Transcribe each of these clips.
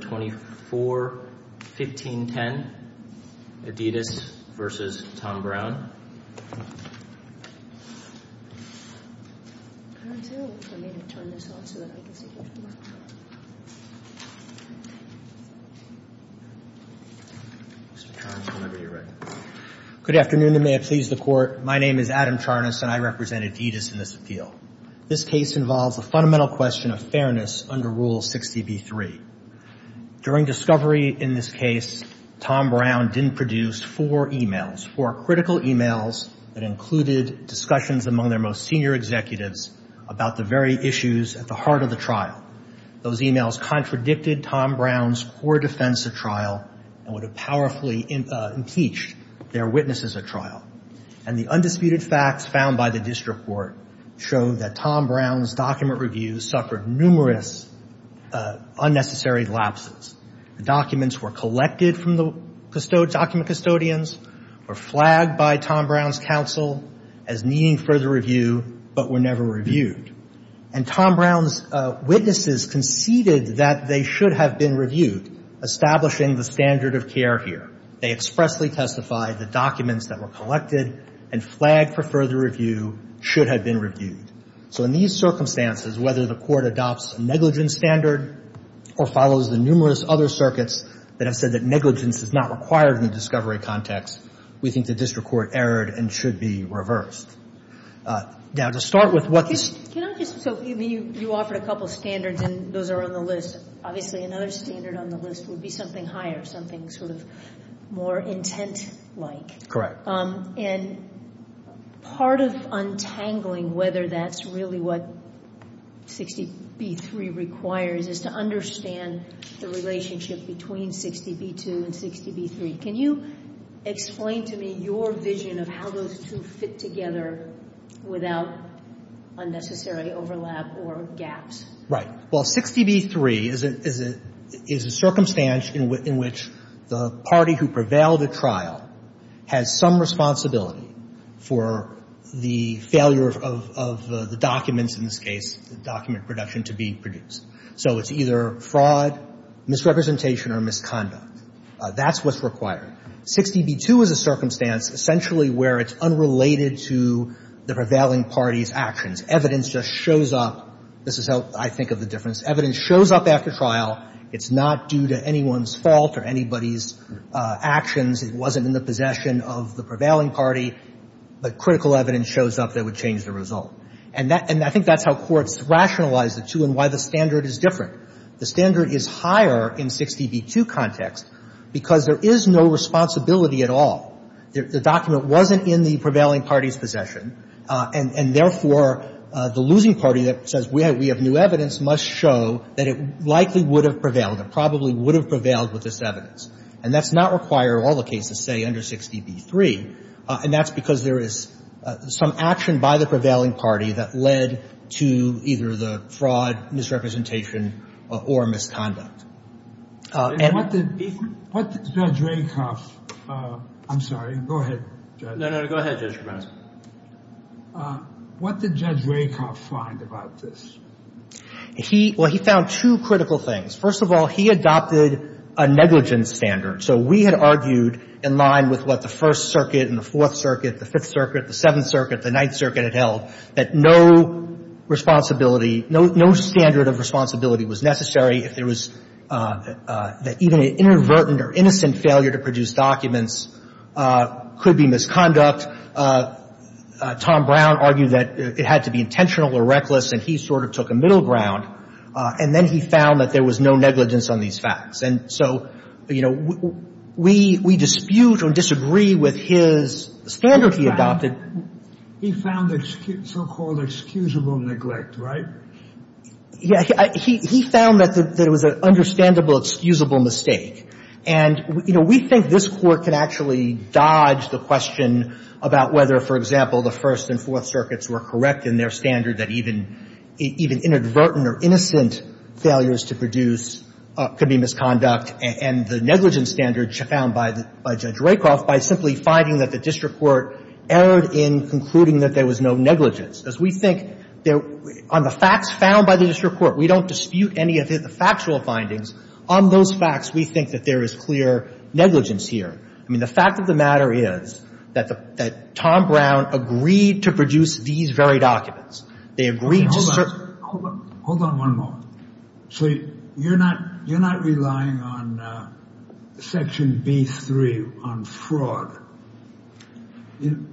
241510, Adidas v. Thom Browne. Good afternoon, and may it please the Court. My name is Adam Charnas, and I represent Adidas in this appeal. This case involves a fundamental question of fairness under Rule 60b-3. During discovery in this case, Thom Browne didn't produce four emails, four critical emails that included discussions among their most senior executives about the very issues at the heart of the trial. Those emails contradicted Thom Browne's core defense of trial and would have powerfully impeached their witnesses at trial. And the undisputed facts found by the district court showed that Thom Browne's document reviews suffered numerous unnecessary lapses. The documents were collected from the document custodians, were flagged by Thom Browne's counsel as needing further review, but were never reviewed. And Thom Browne's witnesses conceded that they should have been reviewed, establishing the standard of care here. They expressly testified the documents that were collected and flagged for further review should have been reviewed. So in these circumstances, whether the Court adopts a negligence standard or follows the numerous other circuits that have said that negligence is not required in the discovery context, we think the district court erred and should be reversed. Now, to start with what's – Can I just – so you offered a couple of standards, and those are on the list. Obviously, another standard on the list would be something higher, something sort of more intent-like. And part of untangling whether that's really what 60B3 requires is to understand the relationship between 60B2 and 60B3. Can you explain to me your vision of how those two fit together without unnecessary overlap or gaps? Right. Well, 60B3 is a – is a circumstance in which the party who prevailed at trial has some responsibility for the failure of the documents, in this case, the document production, to be produced. So it's either fraud, misrepresentation, or misconduct. That's what's required. 60B2 is a circumstance essentially where it's unrelated to the prevailing party's actions. It's evidence just shows up – this is how I think of the difference. Evidence shows up after trial. It's not due to anyone's fault or anybody's actions. It wasn't in the possession of the prevailing party. But critical evidence shows up that would change the result. And that – and I think that's how courts rationalize the two and why the standard is different. The standard is higher in 60B2 context because there is no responsibility at all. The document wasn't in the prevailing party's possession, and – and therefore, the losing party that says we have – we have new evidence must show that it likely would have prevailed. It probably would have prevailed with this evidence. And that's not required in all the cases, say, under 60B3. And that's because there is some action by the prevailing party that led to either the fraud, misrepresentation, or misconduct. And what did – what did Judge Rakoff – I'm sorry. Go ahead, Judge. No, no, no. Go ahead, Judge Kramas. What did Judge Rakoff find about this? He – well, he found two critical things. First of all, he adopted a negligence standard. So we had argued in line with what the First Circuit and the Fourth Circuit, the Fifth Circuit, the Seventh Circuit, the Ninth Circuit had held, that no responsibility – no standard of responsibility was necessary if there was – that even an inadvertent or innocent failure to produce documents could be misconduct. Tom Brown argued that it had to be intentional or reckless, and he sort of took a middle ground. And then he found that there was no negligence on these facts. And so, you know, we – we dispute or disagree with his standard he adopted. He found so-called excusable neglect, right? He found that there was an understandable excusable mistake. And, you know, we think this Court can actually dodge the question about whether, for example, the First and Fourth Circuits were correct in their standard that even inadvertent or innocent failures to produce could be misconduct, and the negligence standard found by Judge Rakoff by simply finding that the district court erred in concluding that there was no negligence. As we think there – on the facts found by the district court, we don't dispute any of his factual findings. On those facts, we think that there is clear negligence here. I mean, the fact of the matter is that the – that Tom Brown agreed to produce these very documents. They agreed to – Hold on. Hold on. Hold on one moment. So you're not – you're not relying on Section B-3 on fraud,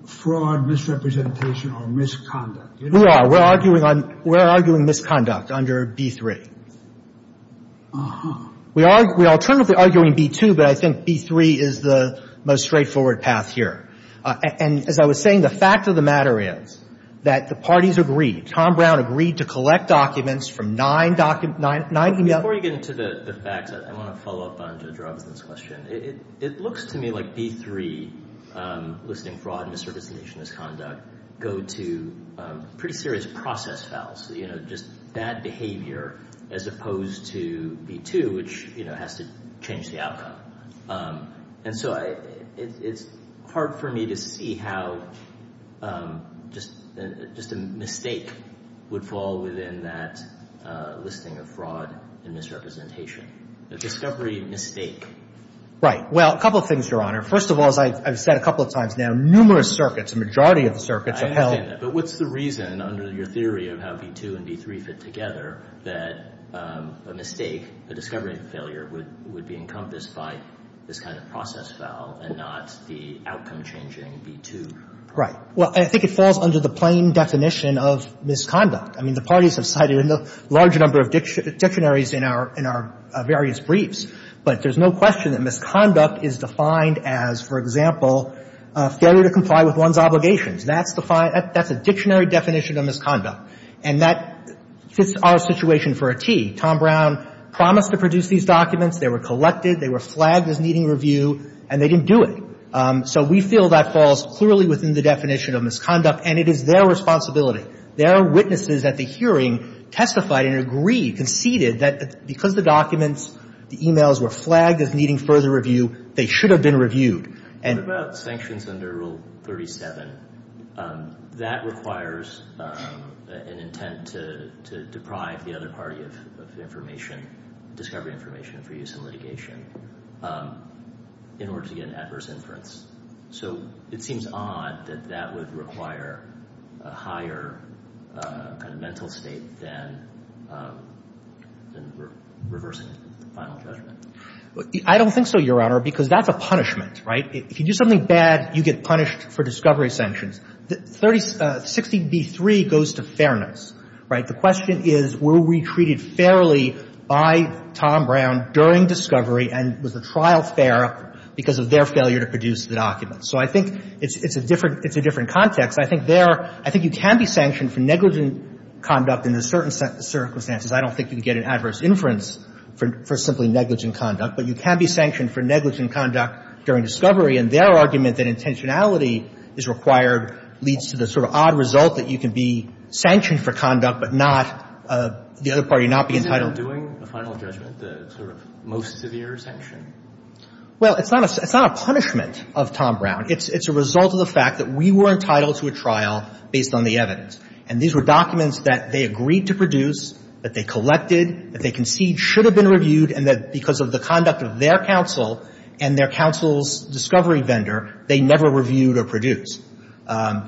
fraud misrepresentation or misconduct? We are. We're arguing on – we're arguing misconduct under B-3. Uh-huh. We are – we are alternatively arguing B-2, but I think B-3 is the most straightforward path here. And as I was saying, the fact of the matter is that the parties agreed. Tom Brown agreed to collect documents from nine docu – nine – Before you get into the facts, I want to follow up on Judge Robinson's question. It looks to me like B-3, listing fraud and misrepresentation and misconduct, go to pretty serious process fouls, you know, just bad behavior, as opposed to B-2, which, you know, has to change the outcome. And so I – it's hard for me to see how just – just a mistake would fall within that listing of fraud and misrepresentation. A discovery mistake. Right. Well, a couple of things, Your Honor. First of all, as I've said a couple of times now, numerous circuits, a majority of the circuits are held – I understand that. But what's the reason, under your theory of how B-2 and B-3 fit together, that a mistake, a discovery of failure, would be encompassed by this kind of process foul and not the outcome changing B-2? Right. Well, I think it falls under the plain definition of misconduct. I mean, the parties have cited a large number of dictionaries in our – in our various briefs, but there's no question that misconduct is defined as, for example, failure to comply with one's obligations. That's defined – that's a dictionary definition of misconduct. And that fits our situation for a tee. Tom Brown promised to produce these documents. They were collected. They were flagged as needing review, and they didn't do it. So we feel that falls clearly within the definition of misconduct, and it is their responsibility. There are witnesses at the hearing testified and agreed, conceded, that because the documents, the e-mails were flagged as needing further review, they should have been reviewed. And – What about sanctions under Rule 37? That requires an intent to deprive the other party of information, discovery information for use in litigation, in order to get an adverse inference. So it seems odd that that would require a higher kind of mental state than – than reversing the final judgment. I don't think so, Your Honor, because that's a punishment, right? If you do something bad, you get punished for discovery sanctions. 30 – 60B3 goes to fairness, right? The question is, were we treated fairly by Tom Brown during discovery and was the trial fair because of their failure to produce the documents? So I think it's a different – it's a different context. I think there – I think you can be sanctioned for negligent conduct in certain circumstances. I don't think you can get an adverse inference for simply negligent conduct. But you can be sanctioned for negligent conduct during discovery, and their argument that intentionality is required leads to the sort of odd result that you can be sanctioned for conduct but not – the other party not be entitled to it. Isn't there doing a final judgment the sort of most severe sanction? Well, it's not a – it's not a punishment of Tom Brown. It's a result of the fact that we were entitled to a trial based on the evidence. And these were documents that they agreed to produce, that they collected, that they conceded should have been reviewed, and that because of the conduct of their counsel and their counsel's discovery vendor, they never reviewed or produced.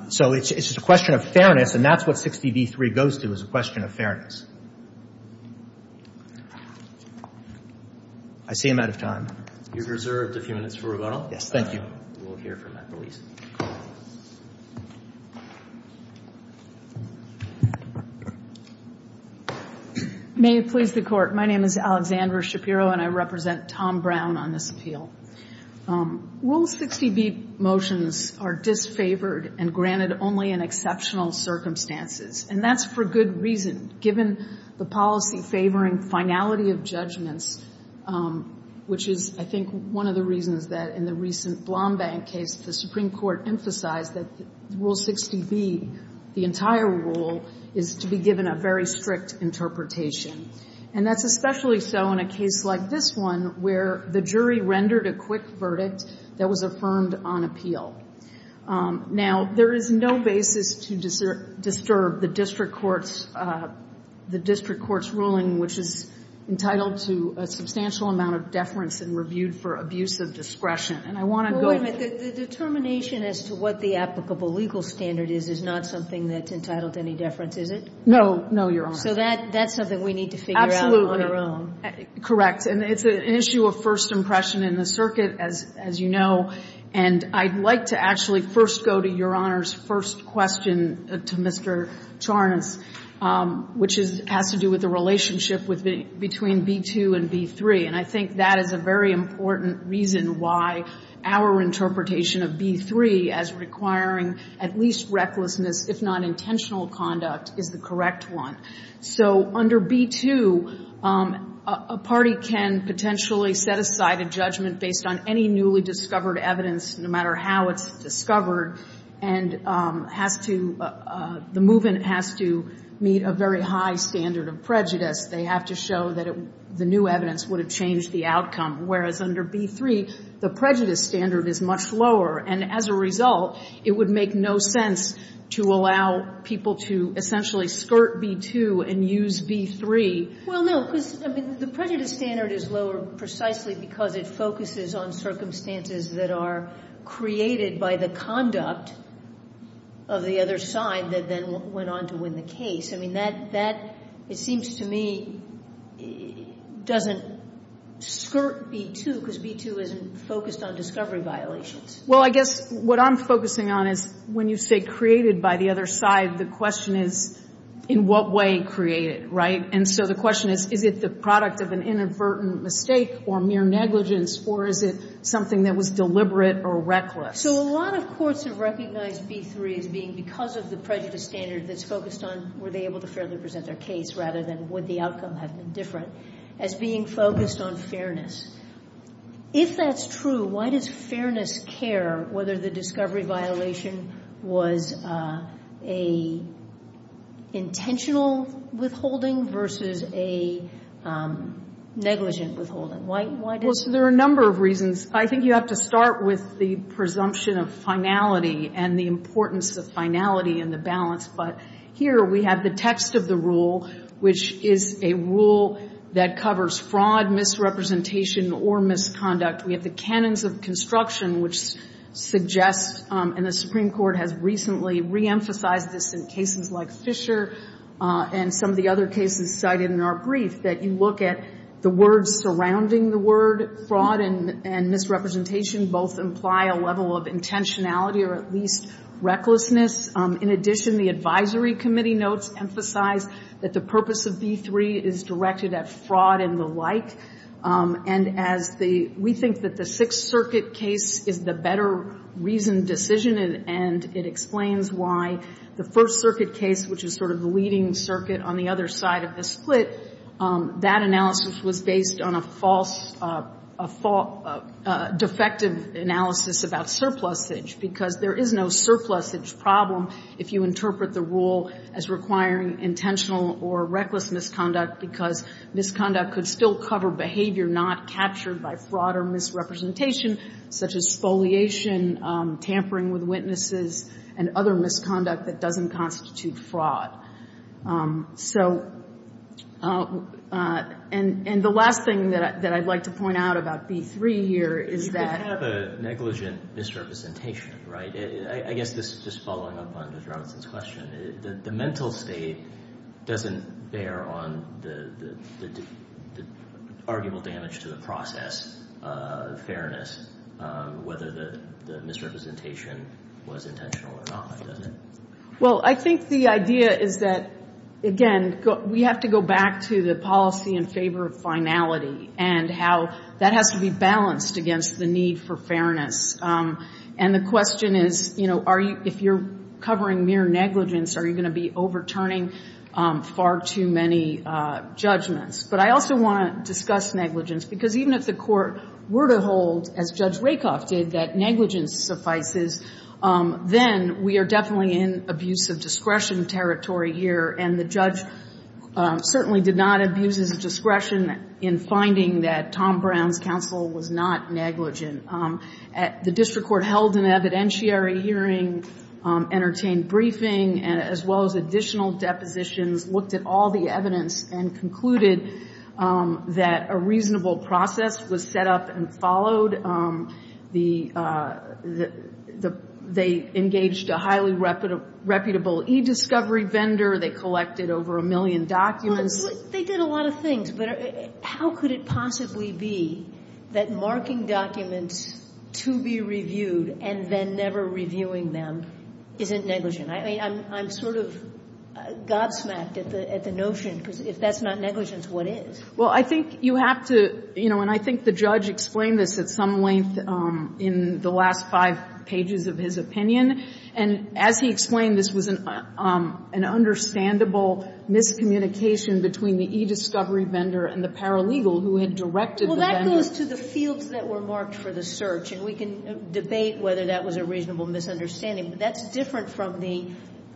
So it's just a question of fairness, and that's what 60B3 goes to is a question of fairness. I see I'm out of time. You're reserved a few minutes for rebuttal. Yes. Thank you. We'll hear from that police. May it please the Court. My name is Alexandra Shapiro, and I represent Tom Brown on this appeal. Rule 60B motions are disfavored and granted only in exceptional circumstances, and that's for good reason. Given the policy favoring finality of judgments, which is, I think, one of the reasons that in the recent Blombank case the Supreme Court emphasized that Rule 60B, the entire rule, is to be given a very strict interpretation. And that's especially so in a case like this one where the jury rendered a quick verdict that was affirmed on appeal. Now, there is no basis to disturb the district court's ruling, which is entitled to a substantial amount of deference and reviewed for abuse of discretion. And I want to go to the... Well, wait a minute. The determination as to what the applicable legal standard is is not something that's entitled to any deference, is it? No. No, Your Honor. So that's something we need to figure out on our own. Correct. And it's an issue of first impression in the circuit, as you know. And I'd like to actually first go to Your Honor's first question to Mr. Charnas, which has to do with the relationship between B-2 and B-3. And I think that is a very important reason why our interpretation of B-3 as requiring at least recklessness, if not intentional conduct, is the correct one. So under B-2, a party can potentially set aside a judgment based on any newly discovered evidence, no matter how it's discovered, and has to — the movement has to meet a very high standard of prejudice. They have to show that the new evidence would have changed the outcome, whereas under B-3, the prejudice standard is much lower. And as a result, it would make no sense to allow people to essentially skirt B-2 and use B-3. Well, no, because, I mean, the prejudice standard is lower precisely because it focuses on circumstances that are created by the conduct of the other side that then went on to win the case. I mean, that, it seems to me, doesn't skirt B-2 because B-2 isn't focused on discovery violations. Well, I guess what I'm focusing on is when you say created by the other side, the question is in what way created, right? And so the question is, is it the product of an inadvertent mistake or mere negligence, or is it something that was deliberate or reckless? So a lot of courts have recognized B-3 as being because of the prejudice standard that's focused on were they able to fairly present their case, rather than would the outcome have been different, as being focused on fairness. If that's true, why does fairness care whether the discovery violation was a intentional withholding versus a negligent withholding? Why does it? Well, so there are a number of reasons. I think you have to start with the presumption of finality and the importance of finality and the balance. But here we have the text of the rule, which is a rule that covers fraud, misrepresentation, or misconduct. We have the canons of construction, which suggests, and the Supreme Court has some of the other cases cited in our brief, that you look at the words surrounding the word fraud and misrepresentation both imply a level of intentionality or at least recklessness. In addition, the advisory committee notes emphasize that the purpose of B-3 is directed at fraud and the like. And we think that the Sixth Circuit case is the better reasoned decision, and it explains why the First Circuit case, which is sort of the leading circuit on the other side of the split, that analysis was based on a false defective analysis about surplusage, because there is no surplusage problem if you interpret the rule as requiring intentional or reckless misconduct, because misconduct could still cover behavior not captured by fraud or misrepresentation, such as humiliation, tampering with witnesses, and other misconduct that doesn't constitute fraud. So, and the last thing that I'd like to point out about B-3 here is that. You could have a negligent misrepresentation, right? I guess this is just following up on Judge Robinson's question. The mental state doesn't bear on the arguable damage to the process, fairness, whether the misrepresentation was intentional or not, does it? Well, I think the idea is that, again, we have to go back to the policy in favor of finality and how that has to be balanced against the need for fairness. And the question is, you know, if you're covering mere negligence, are you going to be overturning far too many judgments? But I also want to discuss negligence, because even if the Court were to hold, as Judge Rakoff did, that negligence suffices, then we are definitely in abuse of discretion territory here. And the judge certainly did not abuse his discretion in finding that Tom Brown's counsel was not negligent. The district court held an evidentiary hearing, entertained briefing, as well as additional depositions, looked at all the evidence, and concluded that a reasonable process was set up and followed. They engaged a highly reputable e-discovery vendor. They collected over a million documents. Well, they did a lot of things, but how could it possibly be that marking documents to be reviewed and then never reviewing them isn't negligent? I mean, I'm sort of gobsmacked at the notion, because if that's not negligence, what is? Well, I think you have to, you know, and I think the judge explained this at some length in the last five pages of his opinion, and as he explained, this was an understandable miscommunication between the e-discovery vendor and the paralegal who had directed the vendor. Well, that goes to the fields that were marked for the search, and we can debate whether that was a reasonable misunderstanding. But that's different from the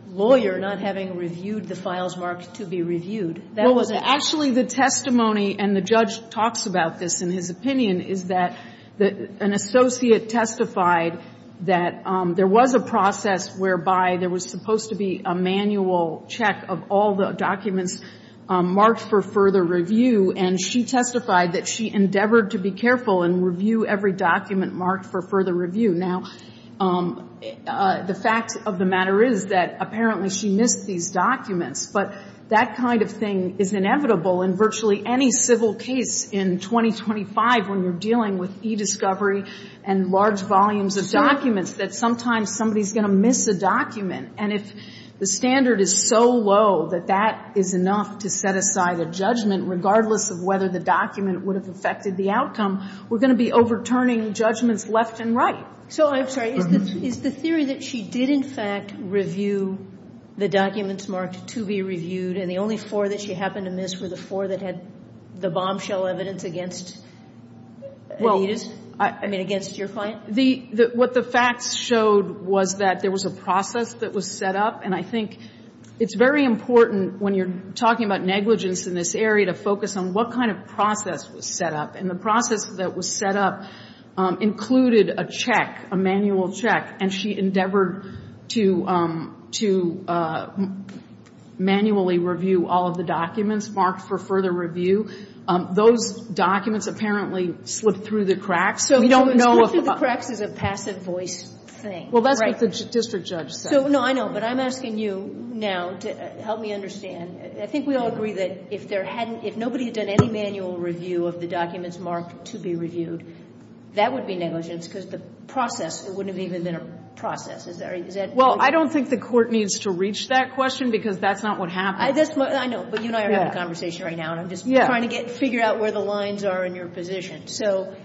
lawyer not having reviewed the files marked to be reviewed. That wasn't the case. Well, actually, the testimony, and the judge talks about this in his opinion, is that an associate testified that there was a process whereby there was supposed to be a manual check of all the documents marked for further review, and she testified that she endeavored to be careful and review every document marked for further review. Now, the fact of the matter is that apparently she missed these documents. But that kind of thing is inevitable in virtually any civil case in 2025 when you're dealing with e-discovery and large volumes of documents, that sometimes somebody is going to miss a document. And if the standard is so low that that is enough to set aside a judgment, regardless of whether the document would have affected the outcome, we're going to be overturning judgments left and right. So I'm sorry. Is the theory that she did, in fact, review the documents marked to be reviewed, and the only four that she happened to miss were the four that had the bombshell evidence against Anita's? I mean, against your client? What the facts showed was that there was a process that was set up. And I think it's very important when you're talking about negligence in this area to focus on what kind of process was set up. And the process that was set up included a check, a manual check. And she endeavored to manually review all of the documents marked for further review. Those documents apparently slipped through the cracks. So we don't know if the box is a passive voice thing. Well, that's what the district judge said. So, no, I know. But I'm asking you now to help me understand. I think we all agree that if nobody had done any manual review of the documents marked to be reviewed, that would be negligence because the process, it wouldn't have even been a process. Is that right? Well, I don't think the court needs to reach that question because that's not what happened. I know. But you and I are having a conversation right now. And I'm just trying to figure out where the lines are in your position. So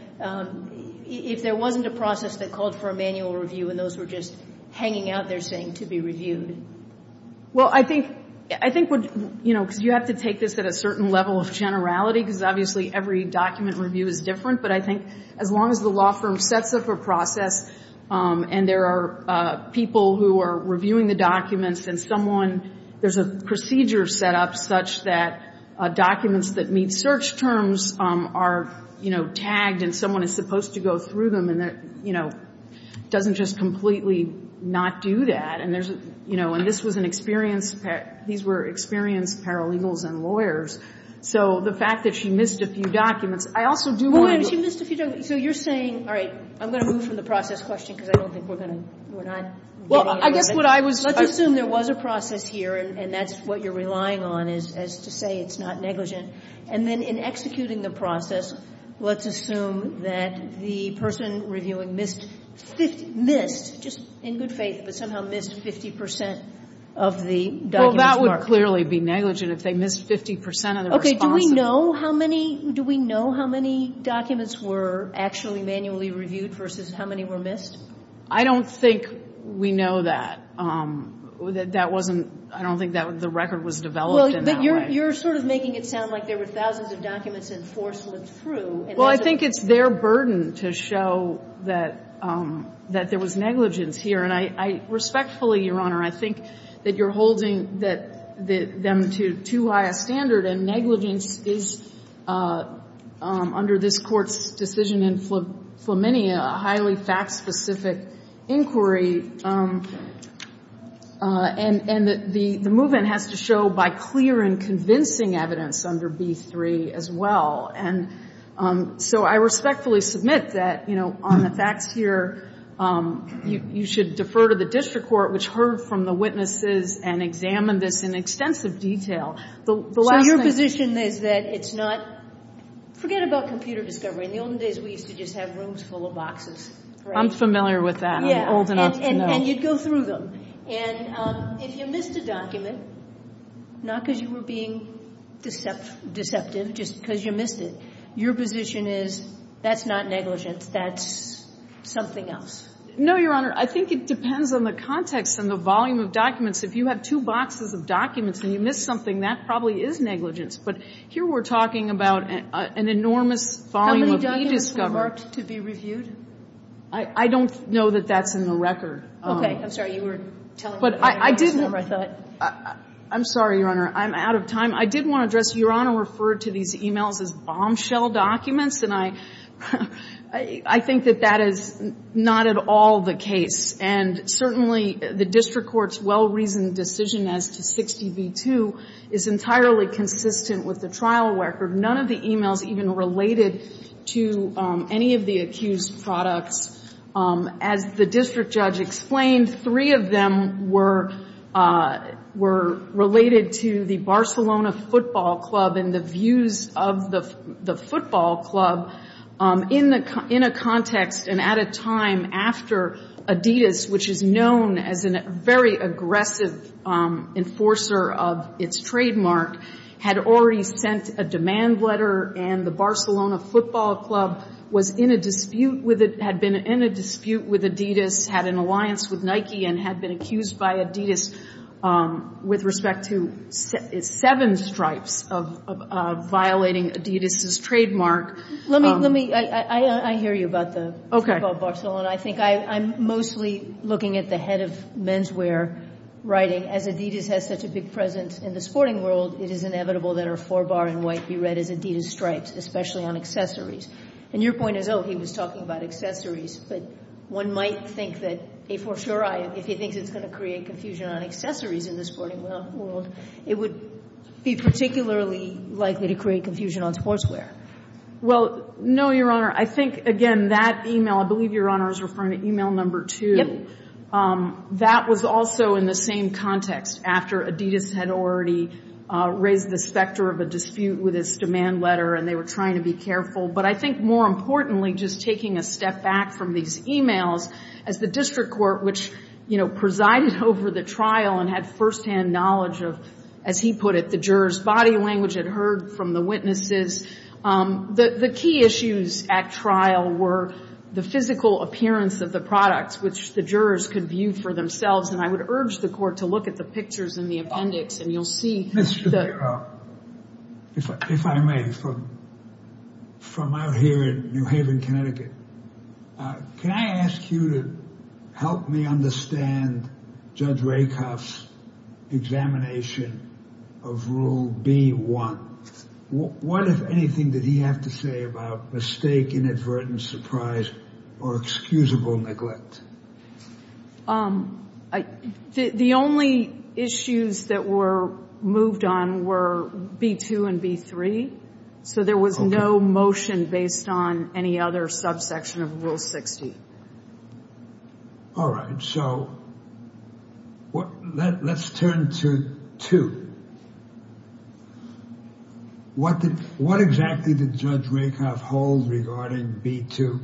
if there wasn't a process that called for a manual review and those were just hanging out there saying to be reviewed. Well, I think what, you know, because you have to take this at a certain level of generality because obviously every document review is different. But I think as long as the law firm sets up a process and there are people who are reviewing the documents and someone, there's a procedure set up such that documents that meet search terms are, you know, tagged and someone is supposed to go through them and, you know, doesn't just completely not do that. And there's, you know, and this was an experienced, these were experienced paralegals and lawyers. So the fact that she missed a few documents, I also do want to do. Well, she missed a few documents. So you're saying, all right, I'm going to move from the process question because I don't think we're going to, we're not. Well, I guess what I was. Let's assume there was a process here and that's what you're relying on is to say it's not negligent. And then in executing the process, let's assume that the person reviewing missed, just in good faith, but somehow missed 50 percent of the documents marked. Well, that would clearly be negligent if they missed 50 percent of the response. Okay. Do we know how many, do we know how many documents were actually manually reviewed versus how many were missed? I don't think we know that. That wasn't, I don't think that the record was developed in that way. Well, but you're sort of making it sound like there were thousands of documents and force went through. Well, I think it's their burden to show that there was negligence here. And I respectfully, Your Honor, I think that you're holding them to too high a standard and negligence is, under this Court's decision in Flaminia, a highly fact-specific inquiry. And the movement has to show by clear and convincing evidence under B3 as well. And so I respectfully submit that, you know, on the facts here, you should defer to the district court, which heard from the witnesses and examined this in extensive detail. So your position is that it's not, forget about computer discovery. In the olden days, we used to just have rooms full of boxes. I'm familiar with that. Yeah. I'm old enough to know. And you'd go through them. And if you missed a document, not because you were being deceptive, just because you missed it, your position is that's not negligence. That's something else. No, Your Honor. I think it depends on the context and the volume of documents. If you have two boxes of documents and you missed something, that probably is negligence. But here we're talking about an enormous volume of e-discovery. How many documents were marked to be reviewed? I don't know that that's in the record. Okay. I'm sorry. You were telling me. I'm sorry, Your Honor. I'm out of time. I did want to address, Your Honor referred to these e-mails as bombshell documents. And I think that that is not at all the case. And certainly the district court's well-reasoned decision as to 60 v. 2 is entirely consistent with the trial record. None of the e-mails even related to any of the accused products. As the district judge explained, three of them were related to the Barcelona football club and the views of the football club in a context and at a time after Adidas, which is known as a very aggressive enforcer of its trademark, had already sent a demand letter and the Barcelona football club was in a dispute with Adidas, had an alliance with Nike, and had been accused by Adidas with respect to seven stripes of violating Adidas' trademark. I hear you about the Barcelona. I think I'm mostly looking at the head of menswear writing, as Adidas has such a big presence in the sporting world, it is inevitable that our four-bar in white be read as Adidas stripes, especially on accessories. And your point is, oh, he was talking about accessories, but one might think that a four-sure eye, if he thinks it's going to create confusion on accessories in the sporting world, it would be particularly likely to create confusion on sportswear. Well, no, Your Honor. I think, again, that e-mail, I believe Your Honor is referring to e-mail number 2. Yep. That was also in the same context, after Adidas had already raised the specter of a dispute with its demand letter and they were trying to be careful. But I think, more importantly, just taking a step back from these e-mails, as the district court, which, you know, presided over the trial and had firsthand knowledge of, as he put it, the jurors' body language, had heard from the witnesses, the key issues at trial were the physical appearance of the products, which the jurors could view for themselves. And I would urge the court to look at the pictures in the appendix, and you'll see the — If I may, from out here in New Haven, Connecticut, can I ask you to help me understand Judge Rakoff's examination of Rule B.1? What, if anything, did he have to say about mistake, inadvertent surprise, or excusable neglect? The only issues that were moved on were B.2 and B.3. So there was no motion based on any other subsection of Rule 60. All right. So let's turn to 2. What exactly did Judge Rakoff hold regarding B.2?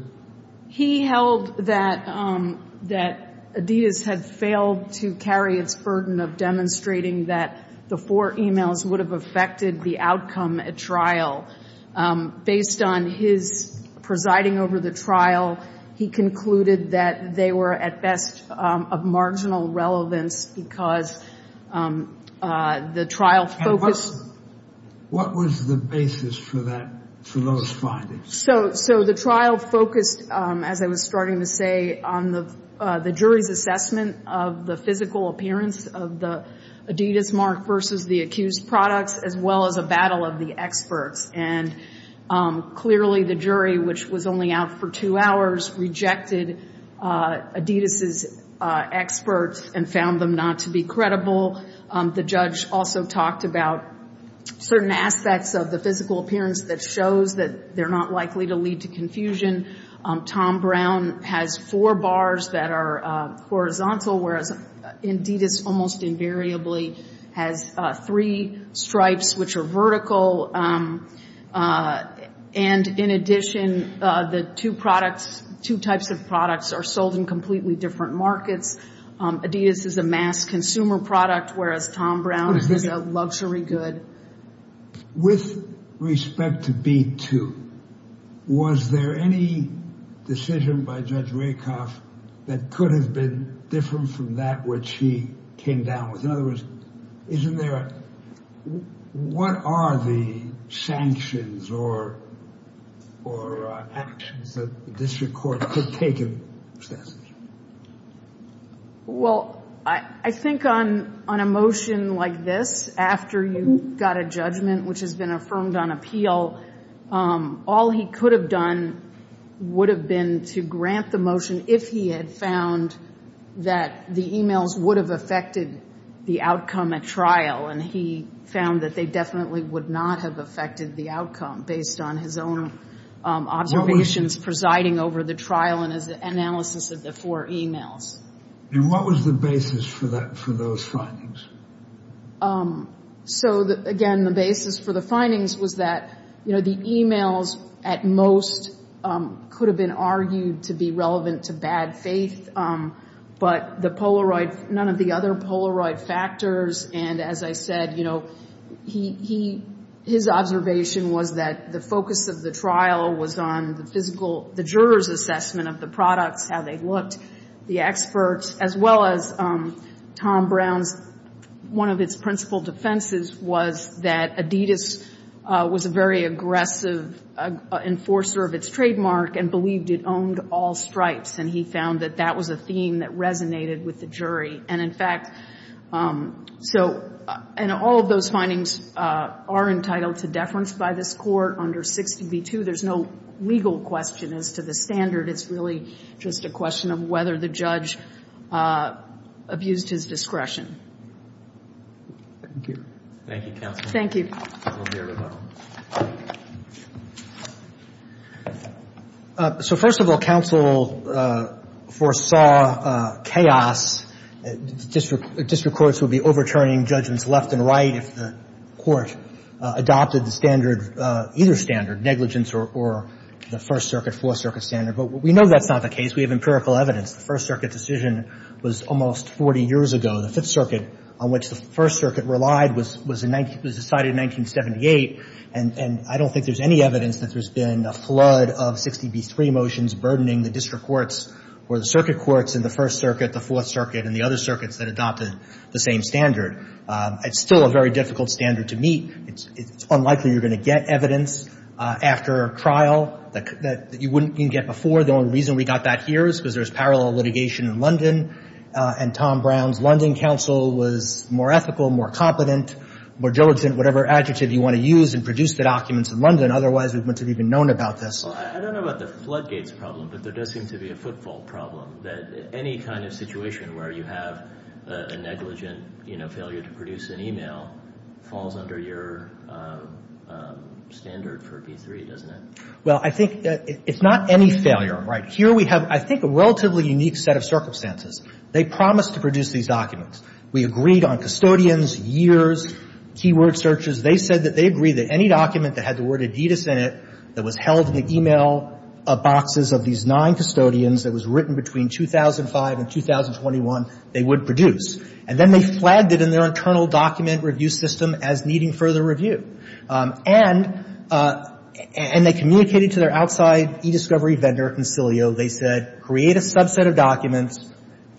He held that Adidas had failed to carry its burden of demonstrating that the four emails would have affected the outcome at trial. Based on his presiding over the trial, he concluded that they were at best of marginal relevance because the trial focused — And what was the basis for that, for those findings? So the trial focused, as I was starting to say, on the jury's assessment of the physical appearance of the Adidas mark versus the accused products, as well as a battle of the experts. And clearly the jury, which was only out for two hours, rejected Adidas' experts and found them not to be credible. The judge also talked about certain aspects of the physical appearance that shows that they're not likely to lead to confusion. Tom Brown has four bars that are horizontal, whereas Adidas almost invariably has three stripes which are vertical. And in addition, the two products, two types of products, are sold in completely different markets. Adidas is a mass consumer product, whereas Tom Brown is a luxury good. With respect to B2, was there any decision by Judge Rakoff that could have been different from that which he came down with? In other words, isn't there a — what are the sanctions or actions that the district court could take in this case? Well, I think on a motion like this, after you've got a judgment which has been affirmed on appeal, all he could have done would have been to grant the motion if he had found that the e-mails would have affected the outcome at trial. And he found that they definitely would not have affected the outcome based on his own observations presiding over the trial and his analysis of the four e-mails. And what was the basis for those findings? So, again, the basis for the findings was that, you know, the e-mails at most could have been argued to be relevant to bad faith, but the Polaroid — none of the other Polaroid factors. And as I said, you know, his observation was that the focus of the trial was on the physical — the juror's assessment of the products, how they looked, the experts, as well as Tom Brown's. One of its principal defenses was that Adidas was a very aggressive enforcer of its trademark and believed it owned all stripes, and he found that that was a theme that resonated with the jury. And, in fact, so — and all of those findings are entitled to deference by this court. Under 60 v. 2, there's no legal question as to the standard. It's really just a question of whether the judge abused his discretion. Thank you. Thank you, counsel. Thank you. So, first of all, counsel foresaw chaos. District courts would be overturning judgments left and right if the court adopted the standard — either standard, negligence or the First Circuit, Fourth Circuit standard. But we know that's not the case. We have empirical evidence. The First Circuit decision was almost 40 years ago. The Fifth Circuit, on which the First Circuit relied, was decided in 1978, and I don't think there's any evidence that there's been a flood of 60 v. 3 motions burdening the district courts or the circuit courts in the First Circuit, the Fourth Circuit, and the other circuits that adopted the same standard. It's still a very difficult standard to meet. It's unlikely you're going to get evidence after a trial that you wouldn't get before. The only reason we got that here is because there's parallel litigation in London, and Tom Brown's London counsel was more ethical, more competent, more diligent, whatever adjective you want to use, and produced the documents in London. Otherwise, we wouldn't have even known about this. Well, I don't know about the floodgates problem, but there does seem to be a footfall problem, that any kind of situation where you have a negligent, you know, failure to produce an e-mail falls under your standard for v. 3, doesn't it? Well, I think that it's not any failure. Right. Here we have, I think, a relatively unique set of circumstances. They promised to produce these documents. We agreed on custodians, years, keyword searches. They said that they agreed that any document that had the word Adidas in it, that was held in the e-mail boxes of these nine custodians, that was written between 2005 and 2021, they would produce. And then they flagged it in their internal document review system as needing further review. And they communicated to their outside e-discovery vendor, Consilio. They said, create a subset of documents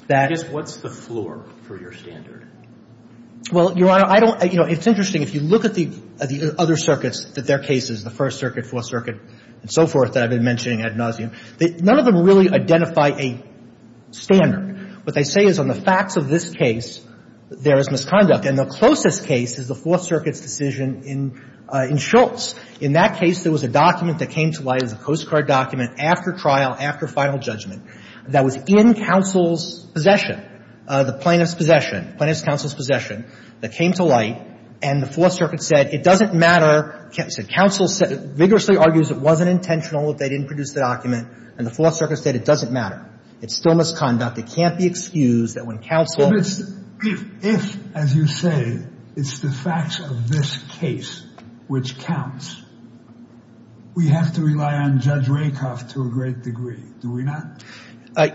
that — I guess what's the floor for your standard? Well, Your Honor, I don't — you know, it's interesting. If you look at the other circuits, at their cases, the First Circuit, Fourth Circuit, and so forth that I've been mentioning ad nauseam, none of them really identify a standard. What they say is on the facts of this case, there is misconduct. And the closest case is the Fourth Circuit's decision in Schultz. In that case, there was a document that came to light, it was a Coast Guard document, after trial, after final judgment, that was in counsel's possession, the plaintiff's possession, plaintiff's counsel's possession, that came to light. And the Fourth Circuit said it doesn't matter. It said counsel vigorously argues it wasn't intentional, they didn't produce the document. And the Fourth Circuit said it doesn't matter. It's still misconduct. It can't be excused that when counsel — But it's — if, as you say, it's the facts of this case which counts, we have to rely on Judge Rakoff to a great degree, do we not?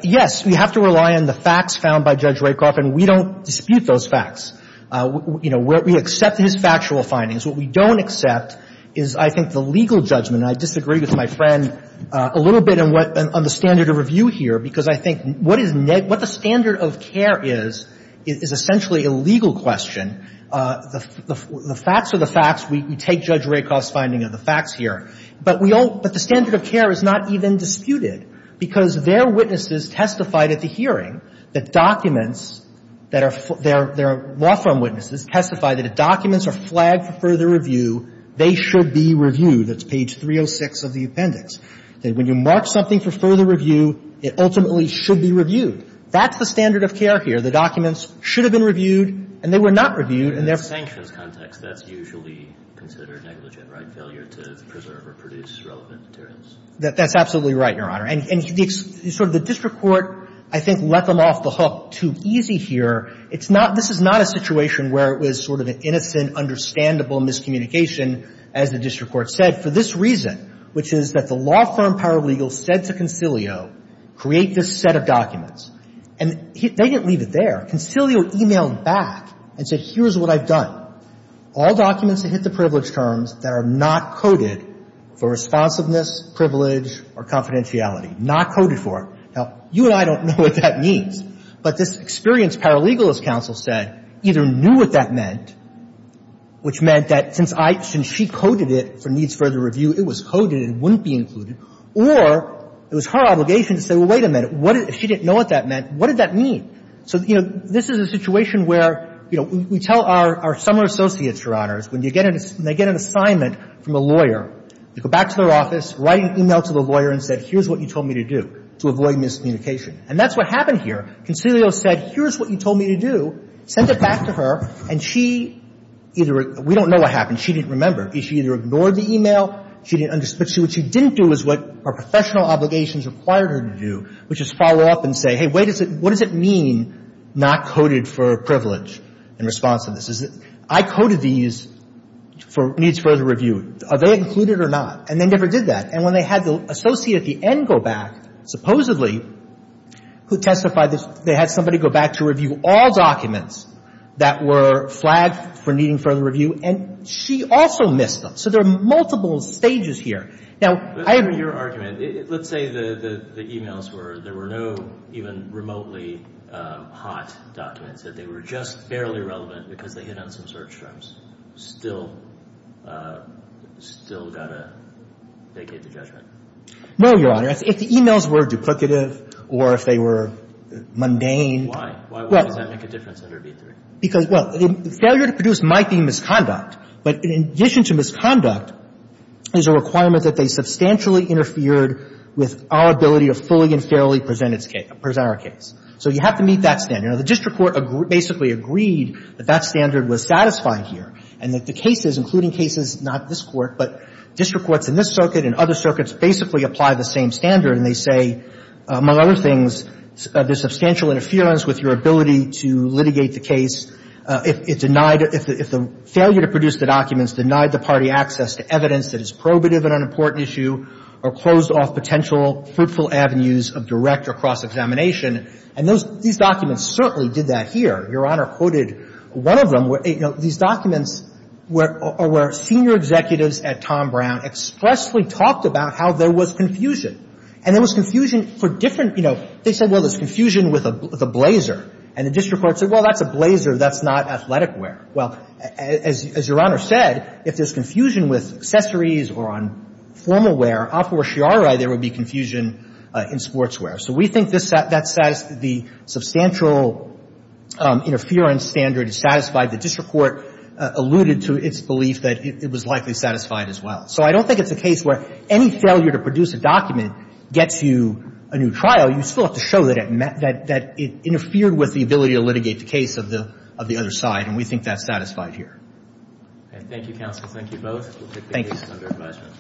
Yes. We have to rely on the facts found by Judge Rakoff, and we don't dispute those facts. You know, we accept his factual findings. What we don't accept is, I think, the legal judgment. And I disagree with my friend a little bit on what — on the standard of review here, because I think what is — what the standard of care is, is essentially a legal question. The facts are the facts. We take Judge Rakoff's finding of the facts here. But we don't — but the standard of care is not even disputed, because their witnesses testified at the hearing that documents that are — their law firm witnesses testified that if documents are flagged for further review, they should be reviewed. That's page 306 of the appendix. That when you mark something for further review, it ultimately should be reviewed. That's the standard of care here. The documents should have been reviewed, and they were not reviewed, and therefore But in a sanctions context, that's usually considered negligent, right? Failure to preserve or produce relevant materials. That's absolutely right, Your Honor. And the — sort of the district court, I think, let them off the hook too easy here. It's not — this is not a situation where it was sort of an innocent, understandable miscommunication, as the district court said, for this reason, which is that the law firm paralegal said to Concilio, create this set of documents. And they didn't leave it there. Concilio emailed back and said, here's what I've done. All documents that hit the privilege terms that are not coded for responsiveness, privilege, or confidentiality, not coded for. Now, you and I don't know what that means. But this experienced paralegal, as Counsel said, either knew what that meant, which meant that since I — since she coded it for needs further review, it was coded and wouldn't be included, or it was her obligation to say, well, wait a minute. What if she didn't know what that meant? What did that mean? So, you know, this is a situation where, you know, we tell our — our summer associates, Your Honors, when you get an — they get an assignment from a lawyer, they go back to their office, write an email to the lawyer and say, here's what you told me to do to avoid miscommunication. And that's what happened here. Concilio said, here's what you told me to do. Sent it back to her, and she either — we don't know what happened. She didn't remember. She either ignored the email. She didn't understand. But what she didn't do is what her professional obligations required her to do, which is follow up and say, hey, wait a minute. What does it mean not coded for privilege and responsiveness? I coded these for needs further review. Are they included or not? And they never did that. And when they had the associate at the end go back, supposedly, who testified, they had somebody go back to review all documents that were flagged for needing further review, and she also missed them. So there are multiple stages here. Now, I — Let me hear your argument. Let's say the emails were — there were no even remotely hot documents, that they were just barely relevant because they hit on some search terms. Do you think that's still — still got to vacate the judgment? No, Your Honor. If the emails were duplicative or if they were mundane — Why? Why does that make a difference under v. 3? Because — well, failure to produce might be a misconduct. But in addition to misconduct is a requirement that they substantially interfered with our ability to fully and fairly present its case — present our case. So you have to meet that standard. You know, the district court basically agreed that that standard was satisfying here and that the cases, including cases — not this Court, but district courts in this circuit and other circuits basically apply the same standard. And they say, among other things, there's substantial interference with your ability to litigate the case if it denied — if the failure to produce the documents denied the party access to evidence that is probative and unimportant issue or closed off potential fruitful avenues of direct or cross-examination. And those — these documents certainly did that here. Your Honor quoted one of them. You know, these documents were — where senior executives at Tom Brown expressly talked about how there was confusion. And there was confusion for different — you know, they said, well, there's confusion with a blazer. And the district court said, well, that's a blazer. That's not athletic wear. Well, as — as Your Honor said, if there's confusion with accessories or on formal wear, a priori, there would be confusion in sportswear. So we think this — that the substantial interference standard is satisfied. The district court alluded to its belief that it was likely satisfied as well. So I don't think it's a case where any failure to produce a document gets you a new trial. You still have to show that it — that it interfered with the ability to litigate the case of the — of the other side. And we think that's satisfied here. Roberts. Thank you, counsel. Thank you both. We'll take the case under advisement.